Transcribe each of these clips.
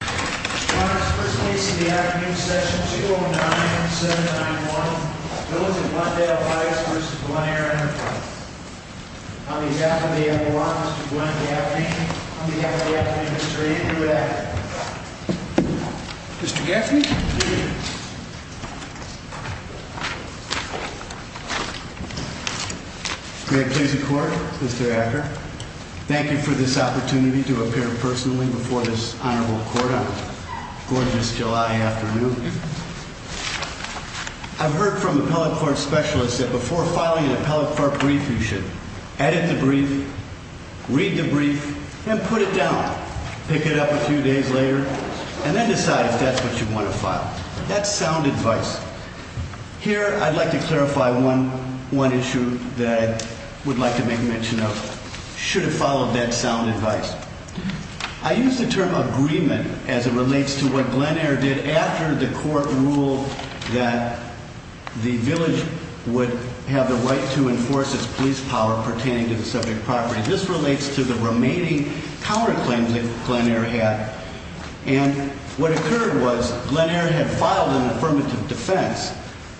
Your Honor, the first case of the afternoon, Session 209, Senate 9-1, Village of Glendale Heights v. Glen Ayre Enterprises. On behalf of the Admirals, Mr. Glenn Gaffney. On behalf of the Attorney General, Mr. Ian Hewitt-Acker. Mr. Gaffney. May it please the Court, Mr. Acker, thank you for this opportunity to appear personally before this Honorable Court on a gorgeous July afternoon. I've heard from appellate court specialists that before filing an appellate court brief, you should edit the brief, read the brief, and put it down. Pick it up a few days later, and then decide if that's what you want to file. That's sound advice. Here, I'd like to clarify one issue that I would like to make mention of. Should have followed that sound advice. I use the term agreement as it relates to what Glen Ayre did after the court ruled that the village would have the right to enforce its police power pertaining to the subject property. This relates to the remaining counterclaims that Glen Ayre had. And what occurred was Glen Ayre had filed an affirmative defense,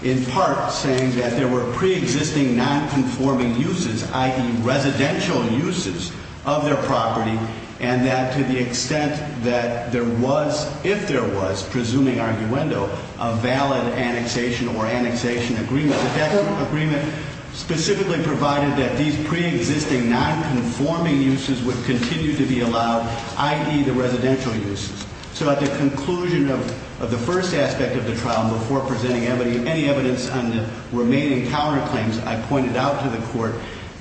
in part saying that there were pre-existing non-conforming uses, i.e. residential uses of their property, and that to the extent that there was, if there was, presuming arguendo, a valid annexation or annexation agreement, that that agreement specifically provided that these pre-existing non-conforming uses would continue to be allowed, i.e. the residential uses. So at the conclusion of the first aspect of the trial, before presenting any evidence on the remaining counterclaims, I pointed out to the court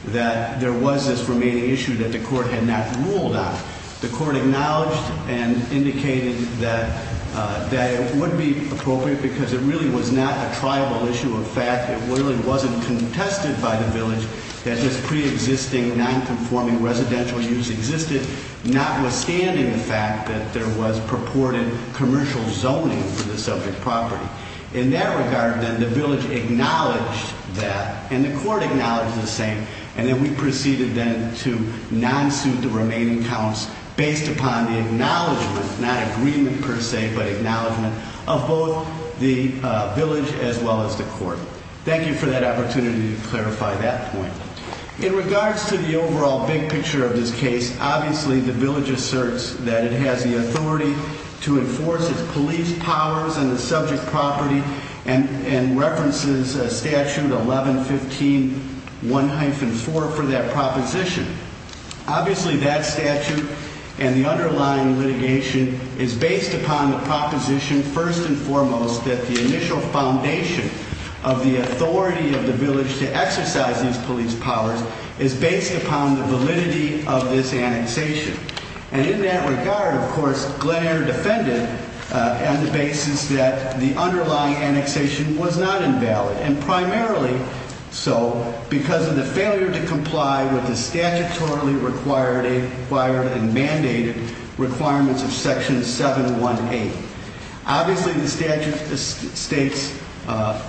that there was this remaining issue that the court had not ruled on. The court acknowledged and indicated that it would be appropriate because it really was not a tribal issue of fact. It really wasn't contested by the village that this pre-existing non-conforming residential use existed, notwithstanding the fact that there was purported commercial zoning for the subject property. In that regard, then, the village acknowledged that, and the court acknowledged the same, and then we proceeded then to non-suit the remaining counts based upon the acknowledgement, not agreement per se, but acknowledgement of both the village as well as the court. Thank you for that opportunity to clarify that point. In regards to the overall big picture of this case, obviously the village asserts that it has the authority to enforce its police powers on the subject property and references Statute 1115.1-4 for that proposition. Obviously that statute and the underlying litigation is based upon the proposition, first and foremost, that the initial foundation of the authority of the village to exercise these police powers is based upon the validity of this annexation. And in that regard, of course, Glenair defended on the basis that the underlying annexation was not invalid, and primarily so because of the failure to comply with the statutorily required and mandated requirements of Section 718. Obviously, the statute states,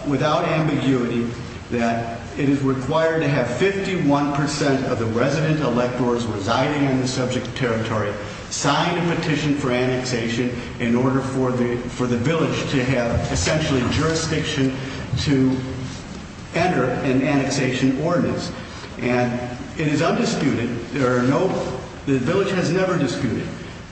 without ambiguity, that it is required to have 51% of the resident electors residing in the subject territory sign a petition for annexation in order for the village to have, essentially, jurisdiction to enter an annexation ordinance. And it is undisputed, the village has never disputed,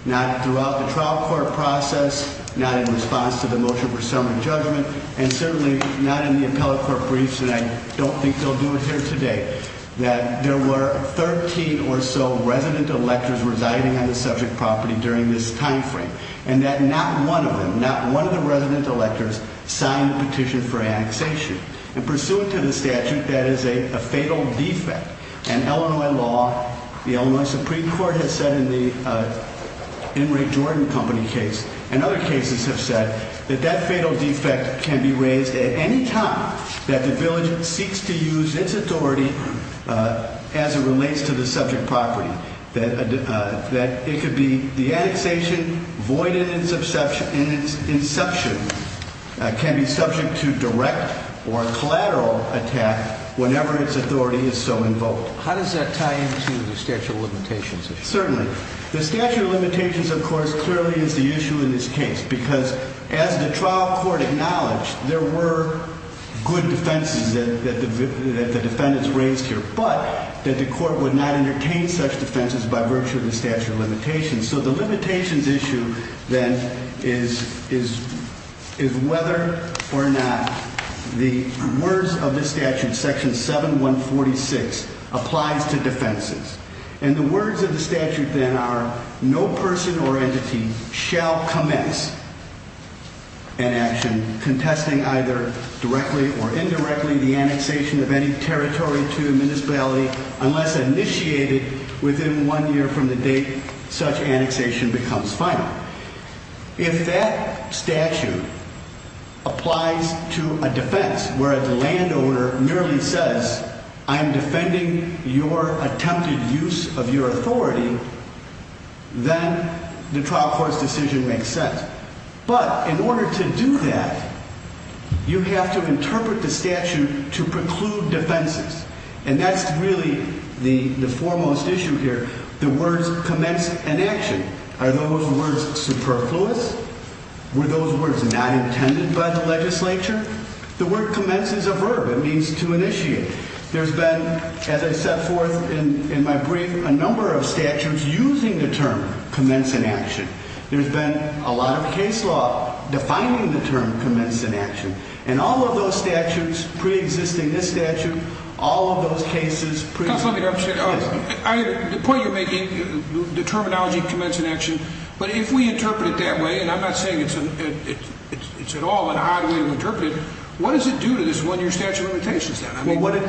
not throughout the trial court process, not in response to the motion for summary judgment, and certainly not in the appellate court briefs, and I don't think they'll do it here today, that there were 13 or so resident electors residing on the subject property during this time frame, and that not one of them, not one of the resident electors, signed the petition for annexation. And pursuant to the statute, that is a fatal defect, and Illinois law, the Illinois Supreme Court has said in the Inmate Jordan Company case, and other cases have said that that fatal defect can be raised at any time that the village seeks to use its authority as it relates to the subject property. That it could be the annexation, void at its inception, can be subject to direct or collateral attack whenever its authority is so invoked. How does that tie into the statute of limitations issue? Certainly. The statute of limitations, of course, clearly is the issue in this case, because as the trial court acknowledged, there were good defenses that the defendants raised here, but that the court would not entertain such defenses by virtue of the statute of limitations. So the limitations issue, then, is whether or not the words of the statute, section 7146, applies to defenses. And the words of the statute, then, are no person or entity shall commence an action contesting either directly or indirectly the annexation of any territory to a municipality unless initiated within one year from the date such annexation becomes final. If that statute applies to a defense where the landowner merely says, I'm defending your attempted use of your authority, then the trial court's decision makes sense. But in order to do that, you have to interpret the statute to preclude defenses. And that's really the foremost issue here, the words commence an action. Are those words superfluous? Were those words not intended by the legislature? The word commence is a verb. It means to initiate. There's been, as I set forth in my brief, a number of statutes using the term commence an action. There's been a lot of case law defining the term commence an action. And all of those statutes, preexisting this statute, all of those cases pre- Counsel, let me interrupt you. Yes. The point you're making, the terminology commence an action, but if we interpret it that way, and I'm not saying it's at all an odd way to interpret it, what does it do to this one-year statute of limitations then? Well, what it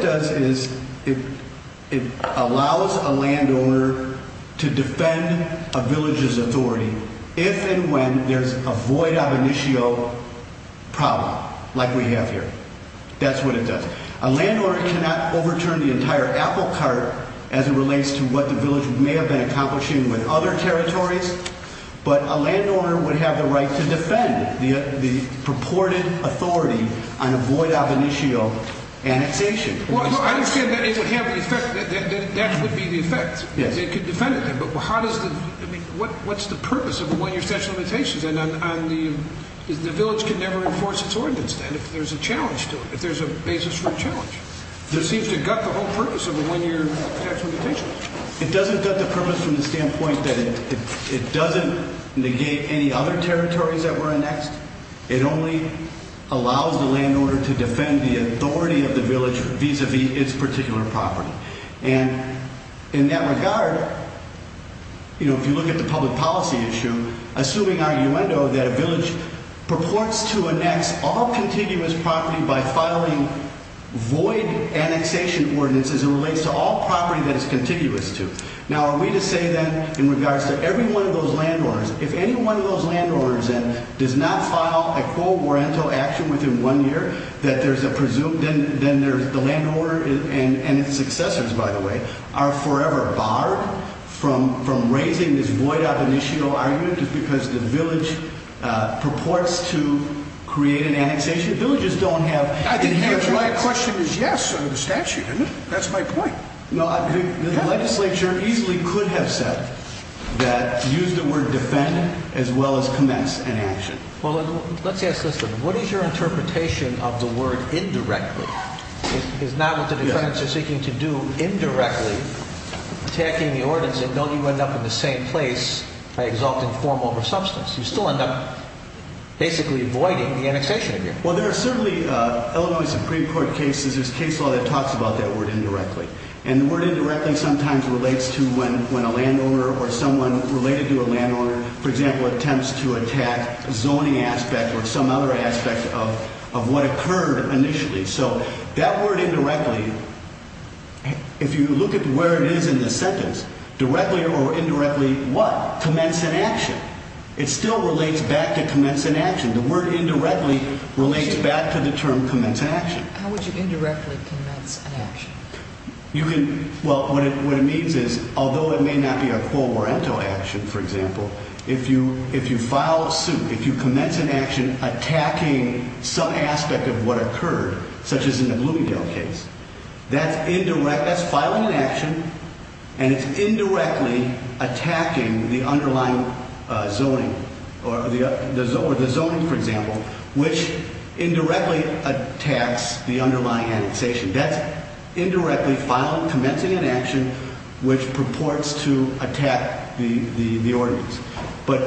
does is it allows a landowner to defend a village's authority if and when there's a void ab initio problem like we have here. That's what it does. A landowner cannot overturn the entire apple cart as it relates to what the village may have been accomplishing with other territories. But a landowner would have the right to defend the purported authority on a void ab initio annexation. Well, I understand that it would have the effect, that that would be the effect. Yes. They could defend it then, but how does the, I mean, what's the purpose of a one-year statute of limitations? And the village can never enforce its ordinance then if there's a challenge to it, if there's a basis for a challenge. It seems to gut the whole purpose of a one-year statute of limitations. It doesn't gut the purpose from the standpoint that it doesn't negate any other territories that were annexed. It only allows the landowner to defend the authority of the village vis-a-vis its particular property. And in that regard, you know, if you look at the public policy issue, assuming our innuendo that a village purports to annex all contiguous property by filing void annexation ordinances as it relates to all property that it's contiguous to. Now, are we to say then in regards to every one of those landowners, if any one of those landowners then does not file a quo morento action within one year, that there's a presumed, then there's the landowner and its successors, by the way, are forever barred from raising this void-up initio argument just because the village purports to create an annexation? Villages don't have... I think the right question is yes under the statute, isn't it? That's my point. No, the legislature easily could have said that, used the word defend, as well as commence an action. Well, let's ask this then. What is your interpretation of the word indirectly? Is not what the defendants are seeking to do indirectly attacking the ordinance and know you end up in the same place by exalting form over substance? You still end up basically voiding the annexation agreement. Well, there are certainly Illinois Supreme Court cases, there's case law that talks about that word indirectly. And the word indirectly sometimes relates to when a landowner or someone related to a landowner, for example, attempts to attack a zoning aspect or some other aspect of what occurred initially. So that word indirectly, if you look at where it is in the sentence, directly or indirectly what? Commence an action. It still relates back to commence an action. The word indirectly relates back to the term commence an action. How would you indirectly commence an action? Well, what it means is, although it may not be a quo morento action, for example, if you file a suit, if you commence an action attacking some aspect of what occurred, such as in the Bloomingdale case, that's filing an action and it's indirectly attacking the underlying zoning or the zoning, for example, which indirectly attacks the underlying annexation. That's indirectly filing, commencing an action which purports to attack the ordinance. But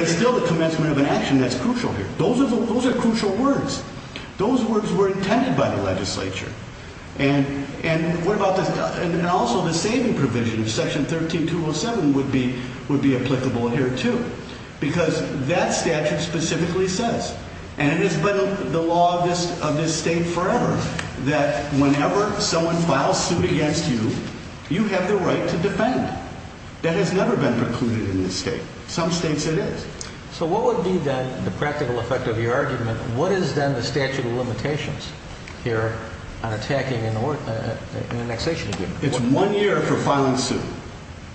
it's still the commencement of an action that's crucial here. Those are crucial words. Those words were intended by the legislature. And what about this? And also the saving provision of Section 13207 would be applicable here, too. Because that statute specifically says, and it has been the law of this state forever, that whenever someone files suit against you, you have the right to defend. That has never been precluded in this state. Some states it is. So what would be, then, the practical effect of your argument? What is, then, the statute of limitations here on attacking an annexation agreement? It's one year for filing suit,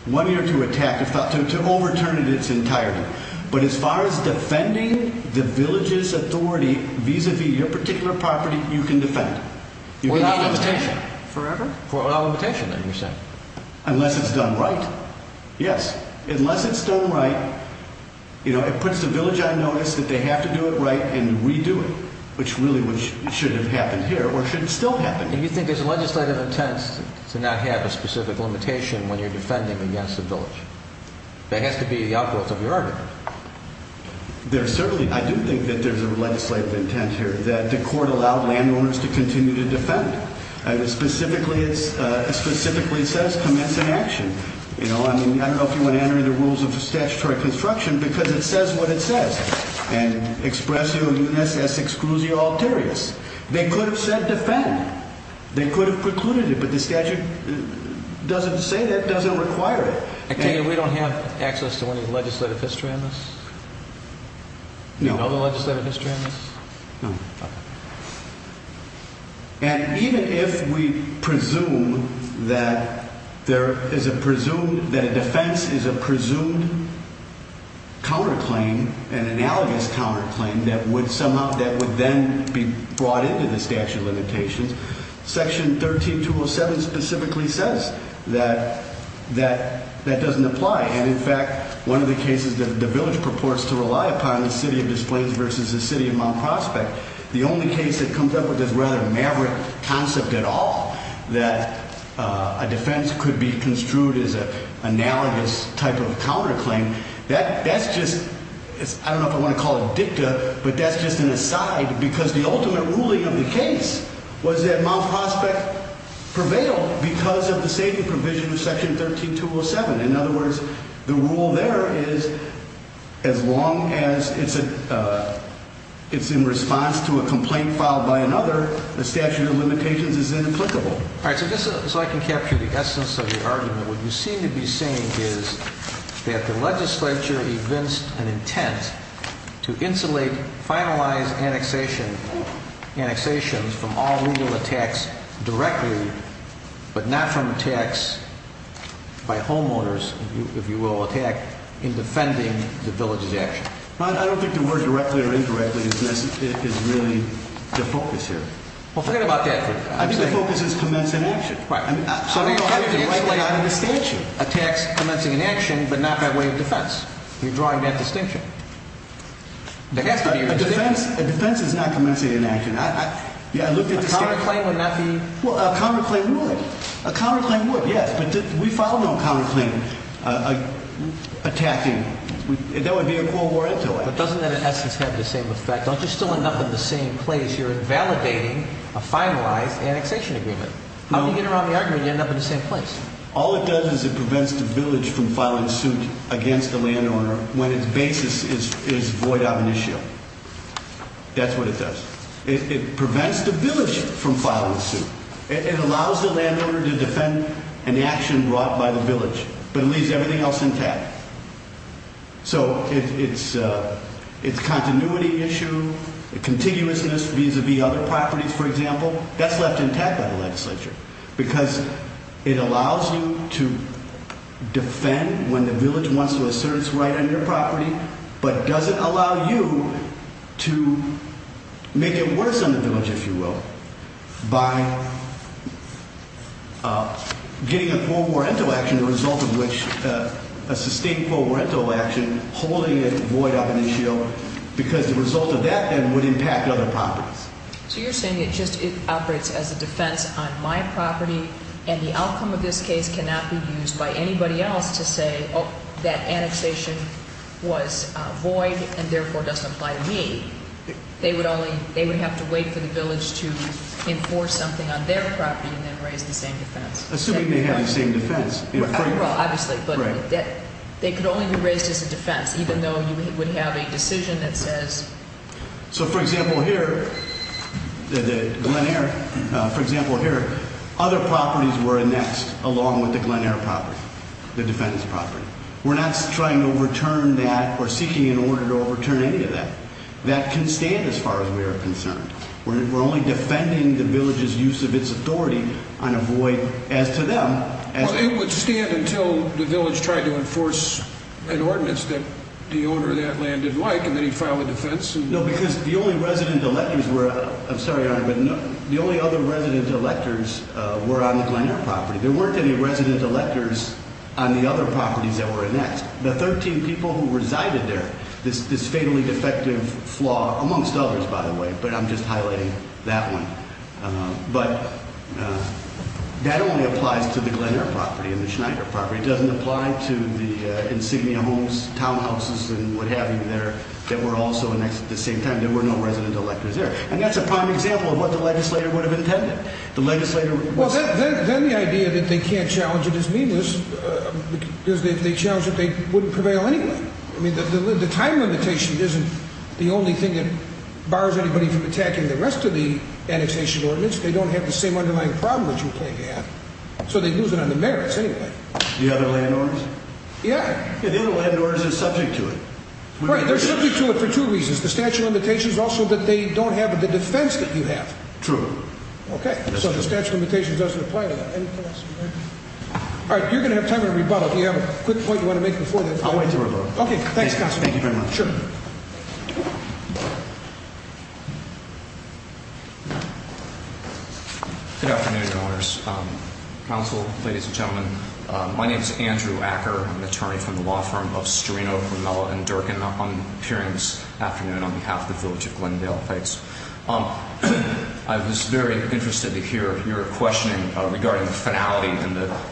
one year to attack, to overturn it in its entirety. But as far as defending the village's authority vis-à-vis your particular property, you can defend. Without limitation. Forever? Without limitation, then, you're saying. Unless it's done right. Yes. Unless it's done right, you know, it puts the village on notice that they have to do it right and redo it, which really should have happened here or should still happen. And you think there's a legislative intent to not have a specific limitation when you're defending against the village. That has to be the outgrowth of your argument. There certainly, I do think that there's a legislative intent here, that the court allowed landowners to continue to defend. And specifically it says commence an action. You know, I mean, I don't know if you want to enter into the rules of statutory construction because it says what it says. And express your mutinous as exclusio alterius. They could have said defend. They could have precluded it, but the statute doesn't say that, doesn't require it. We don't have access to any legislative history on this? No. No legislative history on this? No. Okay. And even if we presume that there is a presumed, that a defense is a presumed counterclaim, an analogous counterclaim, that would somehow, that would then be brought into the statute of limitations, Section 13207 specifically says that that doesn't apply. And, in fact, one of the cases that the village purports to rely upon is City of Des Plaines versus the City of Mount Prospect. The only case that comes up with this rather maverick concept at all, that a defense could be construed as an analogous type of counterclaim, that's just, I don't know if I want to call it dicta, but that's just an aside because the ultimate ruling of the case was that Mount Prospect prevailed because of the saving provision of Section 13207. In other words, the rule there is as long as it's in response to a complaint filed by another, the statute of limitations is inapplicable. All right, so just so I can capture the essence of your argument, what you seem to be saying is that the legislature evinced an intent to insulate, finalize annexations from all legal attacks directly, but not from attacks by homeowners, if you will, attack in defending the village's action. I don't think the word directly or incorrectly is really the focus here. Well, forget about that. I think the focus is commenced in action. Right. I mean, I don't know how you can write that out in the statute. Attacks commencing in action, but not by way of defense. You're drawing that distinction. There has to be a distinction. A defense is not commencing in action. I looked at the statute. A counterclaim would not be? Well, a counterclaim would. A counterclaim would, yes, but we filed no counterclaim attacking. That would be a Cold War influence. But doesn't that in essence have the same effect? Don't you still end up in the same place? You're invalidating a finalized annexation agreement. How do you get around the argument you end up in the same place? All it does is it prevents the village from filing suit against the landowner when its basis is void of an issue. That's what it does. It prevents the village from filing suit. It allows the landowner to defend an action brought by the village, but it leaves everything else intact. So it's a continuity issue, a contiguousness vis-a-vis other properties, for example. That's left intact by the legislature because it allows you to defend when the village wants to assert its right on your property, but doesn't allow you to make it worse on the village, if you will, by getting a Cold War rental action, the result of which a sustained Cold War rental action holding it void of an issue because the result of that then would impact other properties. So you're saying it just operates as a defense on my property, and the outcome of this case cannot be used by anybody else to say that annexation was void and therefore doesn't apply to me. They would have to wait for the village to enforce something on their property and then raise the same defense. Assuming they have the same defense. Well, obviously, but they could only be raised as a defense, even though you would have a decision that says... So, for example, here, the Glen Eyre, for example, here, other properties were annexed along with the Glen Eyre property, the defendant's property. We're not trying to overturn that or seeking an order to overturn any of that. That can stand as far as we are concerned. We're only defending the village's use of its authority on a void as to them. Well, it would stand until the village tried to enforce an ordinance that the owner of that land didn't like, and then he'd file a defense. No, because the only resident electors were... I'm sorry, Your Honor, but the only other resident electors were on the Glen Eyre property. There weren't any resident electors on the other properties that were annexed. The 13 people who resided there, this fatally defective flaw amongst others, by the way, but I'm just highlighting that one. But that only applies to the Glen Eyre property and the Schneider property. It doesn't apply to the insignia homes, townhouses, and what have you there that were also annexed at the same time. There were no resident electors there. And that's a prime example of what the legislator would have intended. The legislator... Well, then the idea that they can't challenge it is meanless because they challenge that they wouldn't prevail anyway. I mean, the time limitation isn't the only thing that bars anybody from attacking the rest of the annexation ordinance. They don't have the same underlying problem that you're claiming to have, so they'd lose it on the merits anyway. The other land orders? Yeah. Yeah, the other land orders are subject to it. Right, they're subject to it for two reasons. The statute of limitations is also that they don't have the defense that you have. True. Okay, so the statute of limitations doesn't apply to that. All right, you're going to have time to rebuttal if you have a quick point you want to make before that. I'll wait to rebuttal. Okay, thanks, Constable. Thank you very much. Sure. Good afternoon, Your Honors. Counsel, ladies and gentlemen, my name is Andrew Acker. I'm an attorney from the law firm of Storino, Grimella, and Durkin. I'm appearing this afternoon on behalf of the Village of Glendale Heights. I was very interested to hear your questioning regarding the finality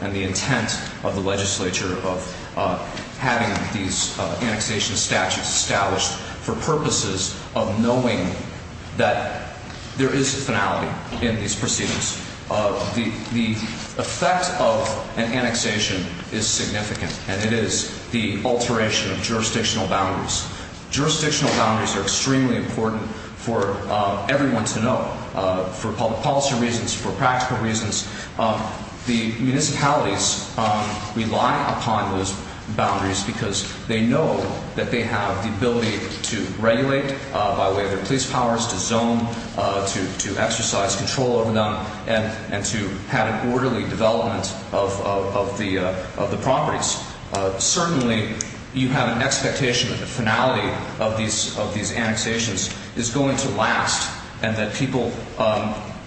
and the intent of the legislature of having these annexation statutes established for purposes of knowing that there is finality in these proceedings. The effect of an annexation is significant, and it is the alteration of jurisdictional boundaries. Jurisdictional boundaries are extremely important for everyone to know, for public policy reasons, for practical reasons. The municipalities rely upon those boundaries because they know that they have the ability to regulate by way of their police powers, to zone, to exercise control over them, and to have an orderly development of the properties. Certainly, you have an expectation that the finality of these annexations is going to last, and that people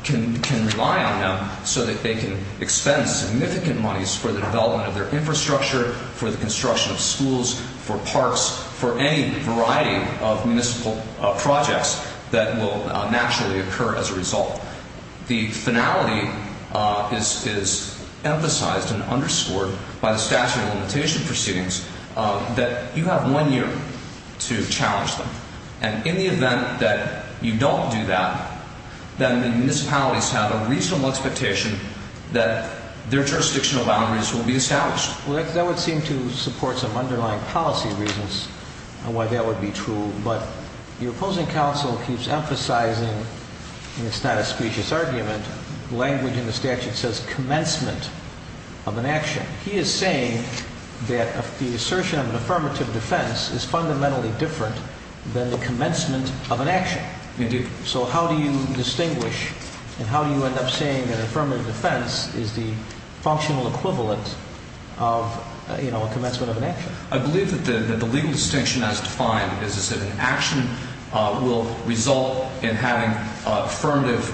can rely on them so that they can expend significant monies for the development of their infrastructure, for the construction of schools, for parks, for any variety of municipal projects that will naturally occur as a result. The finality is emphasized and underscored by the statute of limitation proceedings that you have one year to challenge them. In the event that you don't do that, then the municipalities have a reasonable expectation that their jurisdictional boundaries will be established. That would seem to support some underlying policy reasons on why that would be true, but your opposing counsel keeps emphasizing, and it's not a specious argument, language in the statute that says commencement of an action. He is saying that the assertion of an affirmative defense is fundamentally different than the commencement of an action. Indeed. So how do you distinguish, and how do you end up saying that an affirmative defense is the functional equivalent of a commencement of an action? I believe that the legal distinction as defined is that an action will result in having affirmative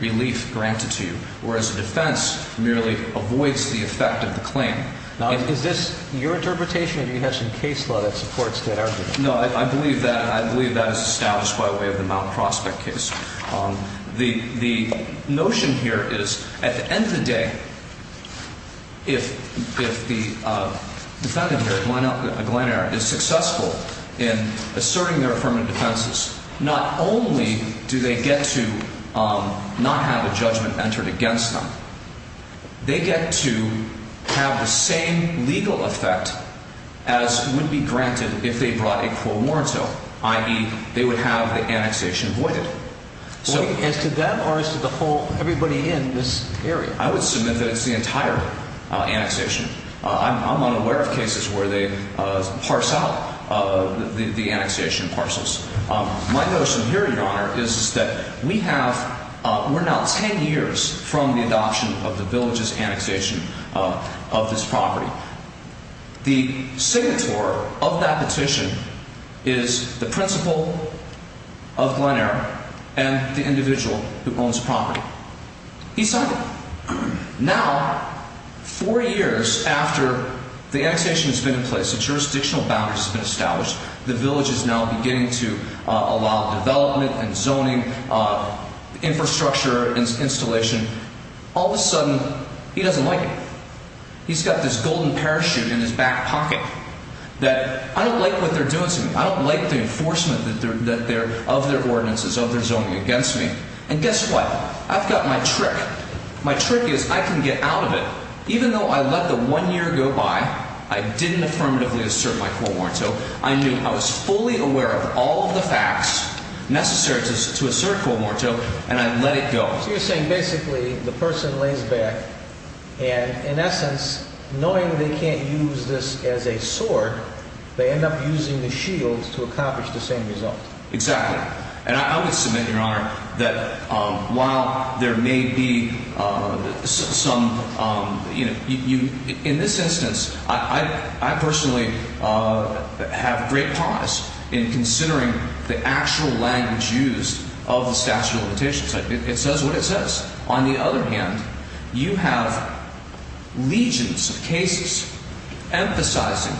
relief granted to you, whereas a defense merely avoids the effect of the claim. Now, is this your interpretation, or do you have some case law that supports that argument? No, I believe that, and I believe that is established by way of the Mount Prospect case. The notion here is, at the end of the day, if the defendant here, Glen Eyre, is successful in asserting their affirmative defenses, not only do they get to not have a judgment entered against them, they get to have the same legal effect as would be granted if they brought a quo morto, i.e., they would have the annexation voided. As to them, or as to the whole, everybody in this area? I would submit that it's the entire annexation. I'm unaware of cases where they parse out the annexation parcels. My notion here, Your Honor, is that we're now 10 years from the adoption of the village's annexation of this property. The signatory of that petition is the principal of Glen Eyre and the individual who owns the property. He signed it. Now, four years after the annexation has been in place, the jurisdictional boundaries have been established, the village is now beginning to allow development and zoning, infrastructure installation. All of a sudden, he doesn't like it. He's got this golden parachute in his back pocket that, I don't like what they're doing to me. I don't like the enforcement of their ordinances, of their zoning against me. And guess what? I've got my trick. My trick is I can get out of it. Even though I let the one year go by, I didn't affirmatively assert my core motto. I knew I was fully aware of all of the facts necessary to assert core motto, and I let it go. So you're saying basically the person lays back, and in essence, knowing they can't use this as a sword, they end up using the shield to accomplish the same result. Exactly. And I would submit, Your Honor, that while there may be some, you know, in this instance, I personally have great promise in considering the actual language used of the statute of limitations. It says what it says. On the other hand, you have legions of cases emphasizing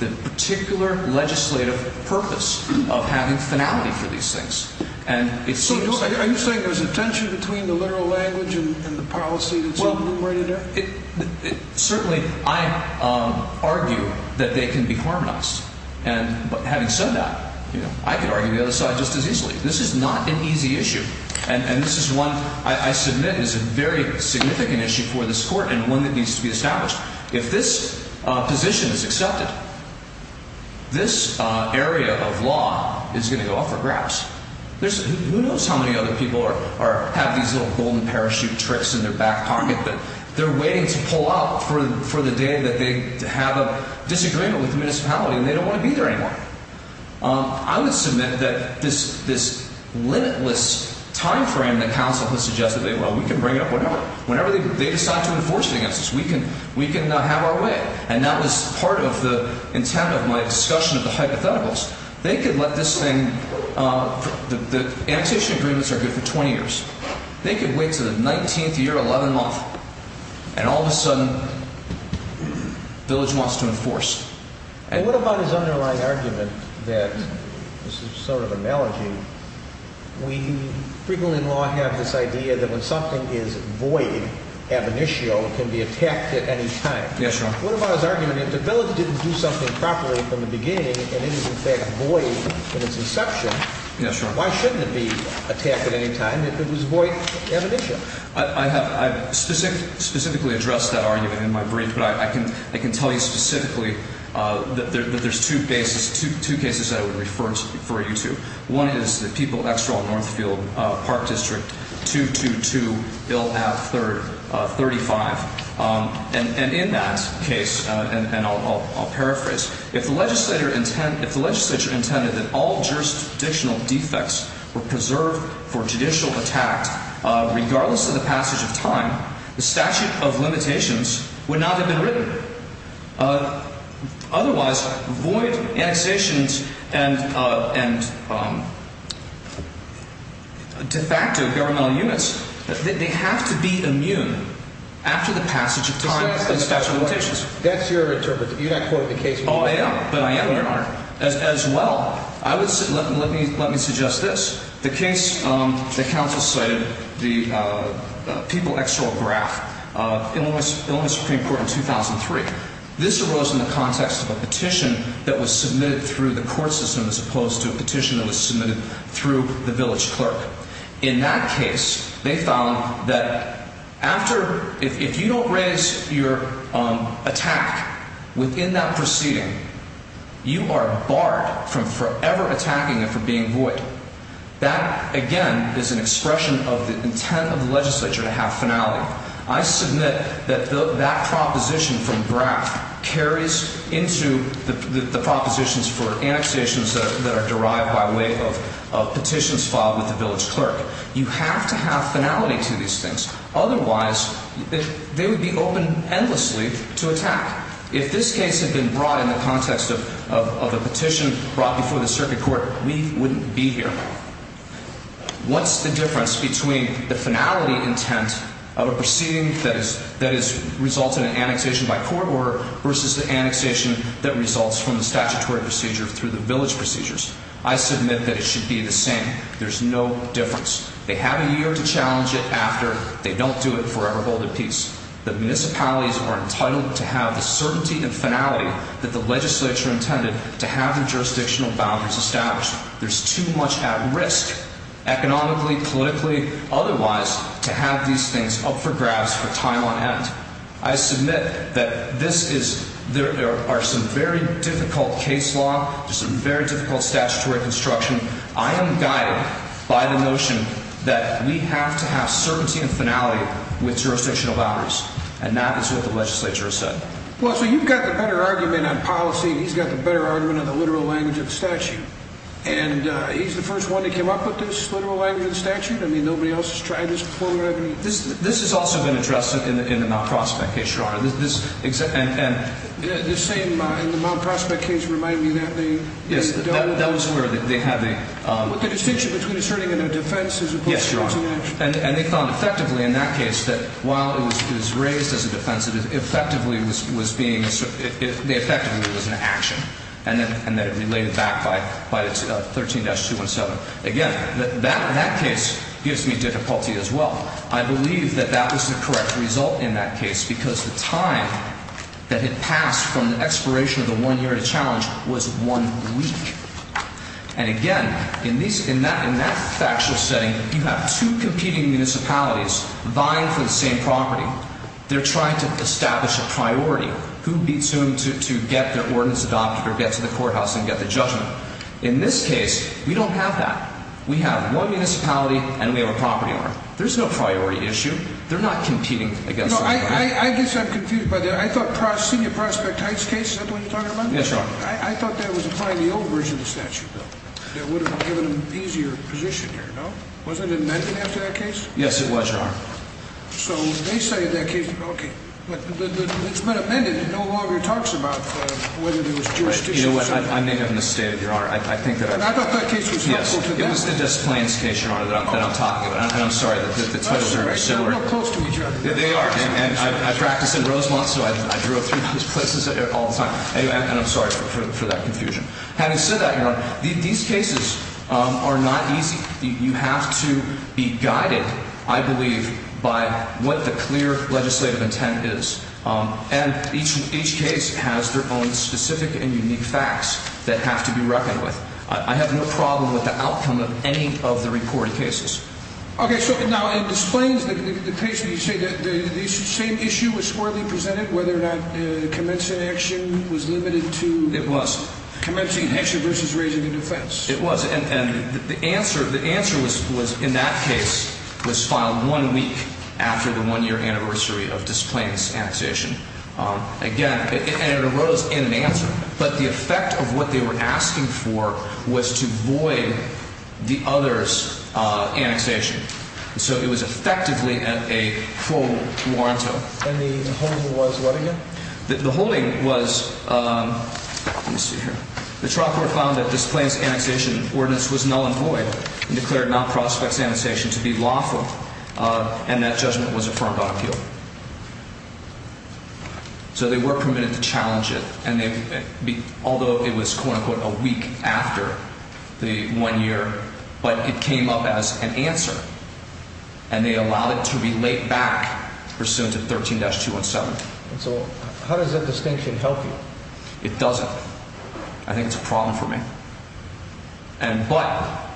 the particular legislative purpose of having finality for these things. And it seems like… So are you saying there's a tension between the literal language and the policy that's enumerated there? Certainly, I argue that they can be harmonized. And having said that, you know, I could argue the other side just as easily. This is not an easy issue. And this is one I submit is a very significant issue for this court and one that needs to be established. If this position is accepted, this area of law is going to go up for grabs. Who knows how many other people have these little golden parachute tricks in their back pocket that they're waiting to pull out for the day that they have a disagreement with the municipality and they don't want to be there anymore. I would submit that this limitless timeframe that counsel has suggested, well, we can bring it up whenever they decide to enforce it against us. We can have our way. And that was part of the intent of my discussion of the hypotheticals. They could let this thing… The annexation agreements are good for 20 years. They could wait until the 19th year, 11th month, and all of a sudden the village wants to enforce. And what about his underlying argument that this is sort of an analogy. We frequently in law have this idea that when something is void, ab initio, it can be attacked at any time. Yes, Your Honor. What about his argument if the village didn't do something properly from the beginning and it is in fact void at its inception… Yes, Your Honor. …why shouldn't it be attacked at any time if it was void ab initio? I specifically addressed that argument in my brief, but I can tell you specifically that there's two cases I would refer you to. One is the People Extra Northfield Park District 222, Bill AB 35. And in that case, and I'll paraphrase, if the legislature intended that all jurisdictional defects were preserved for judicial attack, regardless of the passage of time, the statute of limitations would not have been written. Otherwise, void annexations and de facto governmental units, they have to be immune after the passage of time and statute of limitations. That's your interpretation. You're not quoting the case. Oh, I am. But I am, Your Honor. As well, let me suggest this. The case that counsel cited, the People XO graph, Illinois Supreme Court in 2003. This arose in the context of a petition that was submitted through the court system as opposed to a petition that was submitted through the village clerk. In that case, they found that if you don't raise your attack within that proceeding, you are barred from forever attacking it for being void. That, again, is an expression of the intent of the legislature to have finality. I submit that that proposition from BRAC carries into the propositions for annexations that are derived by way of petitions filed with the village clerk. You have to have finality to these things. Otherwise, they would be open endlessly to attack. If this case had been brought in the context of a petition brought before the circuit court, we wouldn't be here. What's the difference between the finality intent of a proceeding that has resulted in annexation by court order versus the annexation that results from the statutory procedure through the village procedures? I submit that it should be the same. There's no difference. They have a year to challenge it after. They don't do it forever, hold it peace. The municipalities are entitled to have the certainty and finality that the legislature intended to have their jurisdictional boundaries established. There's too much at risk, economically, politically, otherwise, to have these things up for grabs for time on end. I submit that there are some very difficult case law, some very difficult statutory construction. I am guided by the notion that we have to have certainty and finality with jurisdictional boundaries. And that is what the legislature has said. Well, so you've got the better argument on policy, and he's got the better argument on the literal language of the statute. And he's the first one that came up with this literal language of the statute? I mean, nobody else has tried this before? This has also been addressed in the Mount Prospect case, Your Honor. And the Mount Prospect case reminded me of that. Yes, that was where they had the – With the distinction between asserting a defense as opposed to – And they found effectively in that case that while it was raised as a defense, it effectively was being – effectively it was an action, and that it related back by the 13-217. Again, that case gives me difficulty as well. I believe that that was the correct result in that case because the time that had passed from the expiration of the one-year challenge was one week. And again, in that factual setting, you have two competing municipalities vying for the same property. They're trying to establish a priority. Who beats whom to get their ordinance adopted or get to the courthouse and get the judgment? In this case, we don't have that. We have one municipality, and we have a property order. There's no priority issue. They're not competing against each other. I guess I'm confused by that. I thought Senior Prospect Heights case, is that the one you're talking about? Yes, Your Honor. I thought that was applying the old version of the statute, though, that would have given them an easier position here, no? Wasn't it amended after that case? Yes, it was, Your Honor. So they say in that case, okay, but it's been amended. It no longer talks about whether there was jurisdiction. You know what? I may have misstated, Your Honor. I think that I – I thought that case was helpful to them. Yes. It was the Des Plaines case, Your Honor, that I'm talking about. And I'm sorry that the titles are similar. They're not close to each other. They are. And I practice in Rosemont, so I drove through those places all the time. And I'm sorry for that confusion. Having said that, Your Honor, these cases are not easy. You have to be guided, I believe, by what the clear legislative intent is. And each case has their own specific and unique facts that have to be reckoned with. I have no problem with the outcome of any of the reported cases. Okay. So, now, in Des Plaines, the case where you say the same issue was squarely presented, whether or not commencing action was limited to commencing action versus raising a defense. It was. And the answer was, in that case, was filed one week after the one-year anniversary of Des Plaines' annexation. Again, and it arose in an answer. But the effect of what they were asking for was to void the other's annexation. So it was effectively a full warrant. And the holding was what again? The holding was, let me see here. The trial court found that Des Plaines' annexation ordinance was null and void and declared non-prospects annexation to be lawful. And that judgment was affirmed on appeal. So they were permitted to challenge it. And although it was, quote-unquote, a week after the one-year, but it came up as an answer. And they allowed it to be laid back pursuant to 13-217. So how does that distinction help you? It doesn't. I think it's a problem for me. But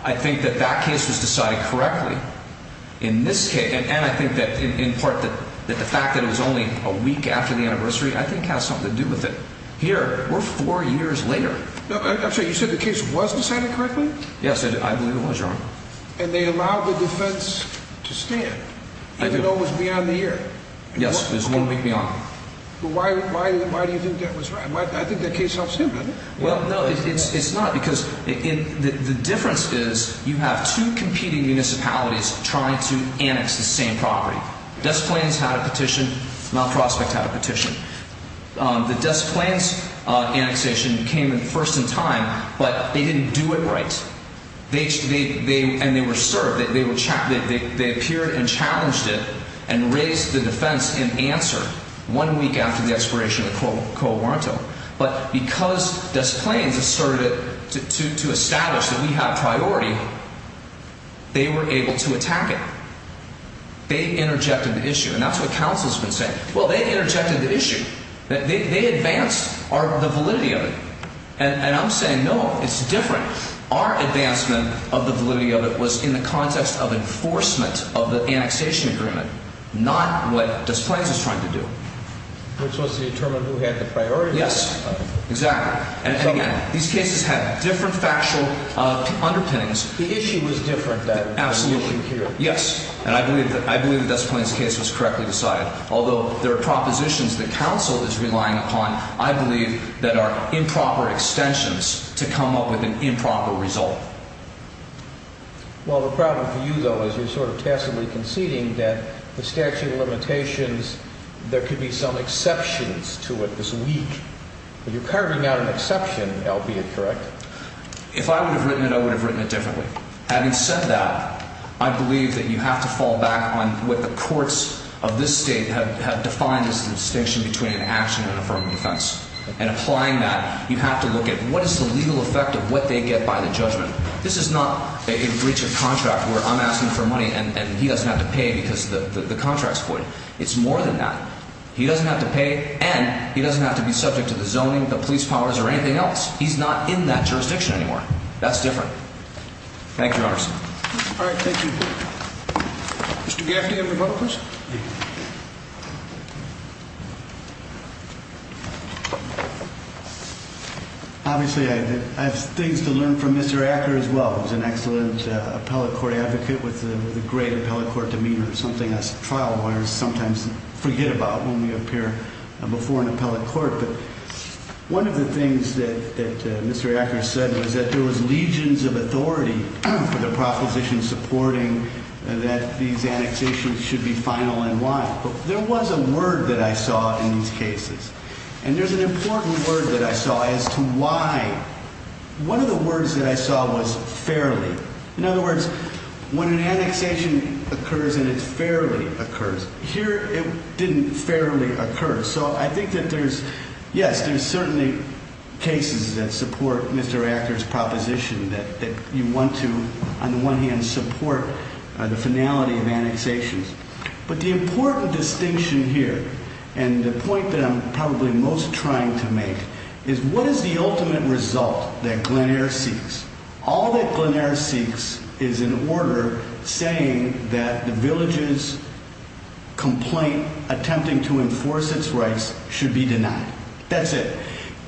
I think that that case was decided correctly in this case. And I think that in part that the fact that it was only a week after the anniversary I think has something to do with it. Here, we're four years later. I'm sorry, you said the case was decided correctly? Yes, I believe it was, Your Honor. And they allowed the defense to stand even though it was beyond the year? Yes, it was one week beyond. Why do you think that was right? I think that case helps him, doesn't it? Well, no, it's not because the difference is you have two competing municipalities trying to annex the same property. Des Plaines had a petition. Mount Prospect had a petition. The Des Plaines annexation came first in time, but they didn't do it right. And they were served. They appeared and challenged it and raised the defense in answer one week after the expiration of the co-warrantor. But because Des Plaines asserted to establish that we have priority, they were able to attack it. They interjected the issue, and that's what counsel has been saying. Well, they interjected the issue. They advanced the validity of it. And I'm saying no, it's different. Our advancement of the validity of it was in the context of enforcement of the annexation agreement, not what Des Plaines is trying to do. Which was to determine who had the priority. Yes, exactly. And, again, these cases have different factual underpinnings. The issue was different, then, than the issue here. Absolutely, yes. And I believe that Des Plaines' case was correctly decided. Although there are propositions that counsel is relying upon, I believe that are improper extensions to come up with an improper result. Well, the problem for you, though, is you're sort of tacitly conceding that the statute of limitations, there could be some exceptions to it this week. You're carving out an exception, albeit correct. If I would have written it, I would have written it differently. Having said that, I believe that you have to fall back on what the courts of this state have defined as the distinction between an action and an affirmative defense. And applying that, you have to look at what is the legal effect of what they get by the judgment. This is not a breach of contract where I'm asking for money and he doesn't have to pay because the contract's voided. It's more than that. He doesn't have to pay, and he doesn't have to be subject to the zoning, the police powers, or anything else. He's not in that jurisdiction anymore. That's different. Thank you, Your Honor. All right, thank you. Mr. Gaffney of the Republicans? Thank you. Obviously, I have things to learn from Mr. Acker as well. He's an excellent appellate court advocate with a great appellate court demeanor, something us trial lawyers sometimes forget about when we appear before an appellate court. But one of the things that Mr. Acker said was that there was legions of authority for the proposition supporting that these annexations should be final and why. But there was a word that I saw in these cases, and there's an important word that I saw as to why. One of the words that I saw was fairly. In other words, when an annexation occurs and it's fairly occurs. Here, it didn't fairly occur. So I think that there's, yes, there's certainly cases that support Mr. Acker's proposition that you want to, on the one hand, support the finality of annexations. But the important distinction here, and the point that I'm probably most trying to make, is what is the ultimate result that Glen Eyre seeks? All that Glen Eyre seeks is an order saying that the village's complaint attempting to enforce its rights should be denied. That's it.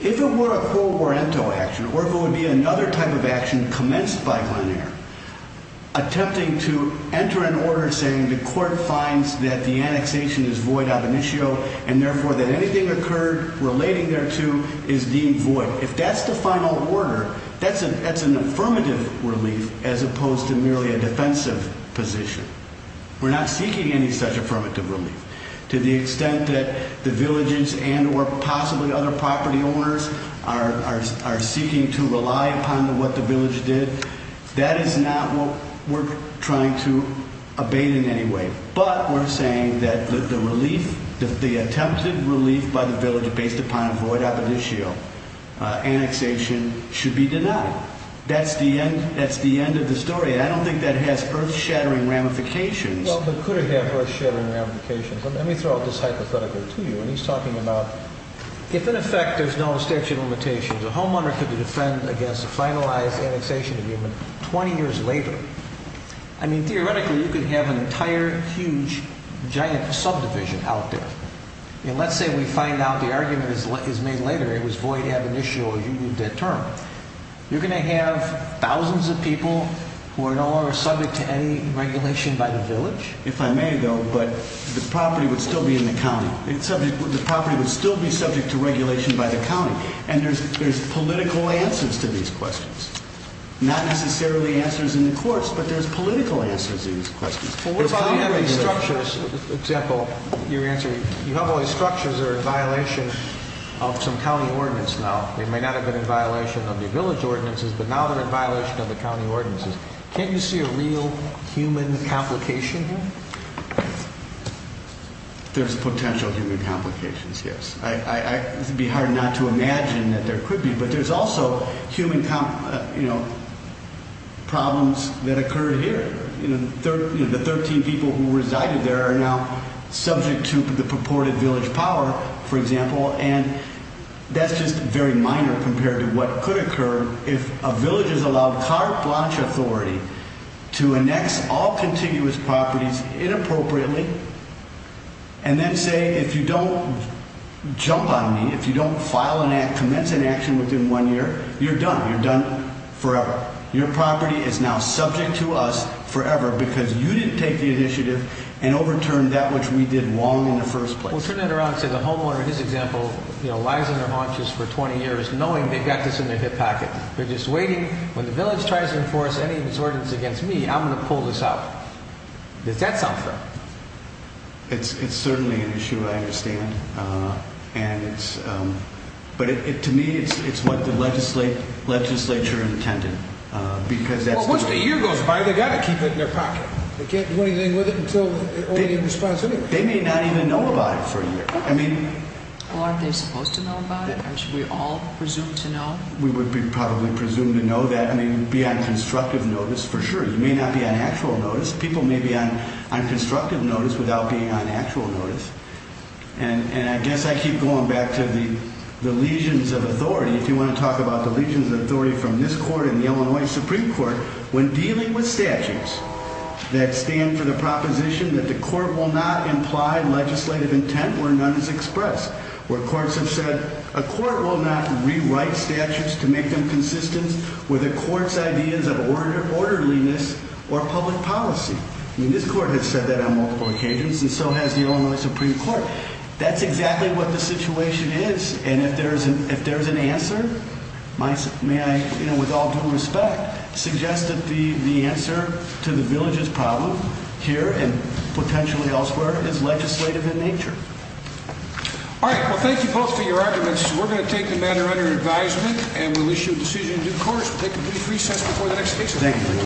If it were a co-oriento action, or if it would be another type of action commenced by Glen Eyre, attempting to enter an order saying the court finds that the annexation is void ab initio, and therefore that anything occurred relating thereto is deemed void. So if that's the final order, that's an affirmative relief as opposed to merely a defensive position. We're not seeking any such affirmative relief. To the extent that the villages and or possibly other property owners are seeking to rely upon what the village did, that is not what we're trying to abate in any way. But we're saying that the relief, the attempted relief by the village based upon a void ab initio annexation should be denied. That's the end of the story. I don't think that has earth-shattering ramifications. Well, but could it have earth-shattering ramifications? Let me throw this hypothetical to you. When he's talking about if, in effect, there's no statute of limitations, a homeowner could defend against a finalized annexation agreement 20 years later. I mean, theoretically, you could have an entire, huge, giant subdivision out there. And let's say we find out the argument is made later. It was void ab initio. You moved that term. You're going to have thousands of people who are no longer subject to any regulation by the village? If I may, though, but the property would still be in the county. The property would still be subject to regulation by the county. And there's political answers to these questions. Not necessarily answers in the courts, but there's political answers to these questions. Well, what about having structures? For example, your answer, you have all these structures that are in violation of some county ordinance now. They may not have been in violation of the village ordinances, but now they're in violation of the county ordinances. Can't you see a real human complication here? There's potential human complications, yes. It would be hard not to imagine that there could be. But there's also human problems that occurred here. The 13 people who resided there are now subject to the purported village power, for example, and that's just very minor compared to what could occur if a village is allowed carte blanche authority to annex all contiguous properties inappropriately and then say, if you don't jump on me, if you don't file an act, commence an action within one year, you're done. You're done forever. Your property is now subject to us forever because you didn't take the initiative and overturned that which we did wrong in the first place. Well, turn that around and say the homeowner, his example, you know, lies on their haunches for 20 years knowing they've got this in their hip pocket. They're just waiting. When the village tries to enforce any disorders against me, I'm going to pull this out. Does that sound fair? It's certainly an issue, I understand. But to me, it's what the legislature intended. Once the year goes by, they've got to keep it in their pocket. They can't do anything with it until it's already in response anyway. They may not even know about it for a year. Well, aren't they supposed to know about it? Aren't we all presumed to know? We would be probably presumed to know that. I mean, you'd be on constructive notice, for sure. You may not be on actual notice. People may be on constructive notice without being on actual notice. And I guess I keep going back to the legions of authority. If you want to talk about the legions of authority from this court and the Illinois Supreme Court, when dealing with statutes that stand for the proposition that the court will not imply legislative intent where none is expressed, where courts have said a court will not rewrite statutes to make them consistent with a court's ideas of orderliness or public policy. I mean, this court has said that on multiple occasions, and so has the Illinois Supreme Court. That's exactly what the situation is. And if there is an answer, may I, with all due respect, suggest that the answer to the villages problem here and potentially elsewhere is legislative in nature. All right, well, thank you both for your arguments. We're going to take the matter under advisement, and we'll issue a decision in due course. We'll take a brief recess before the next case.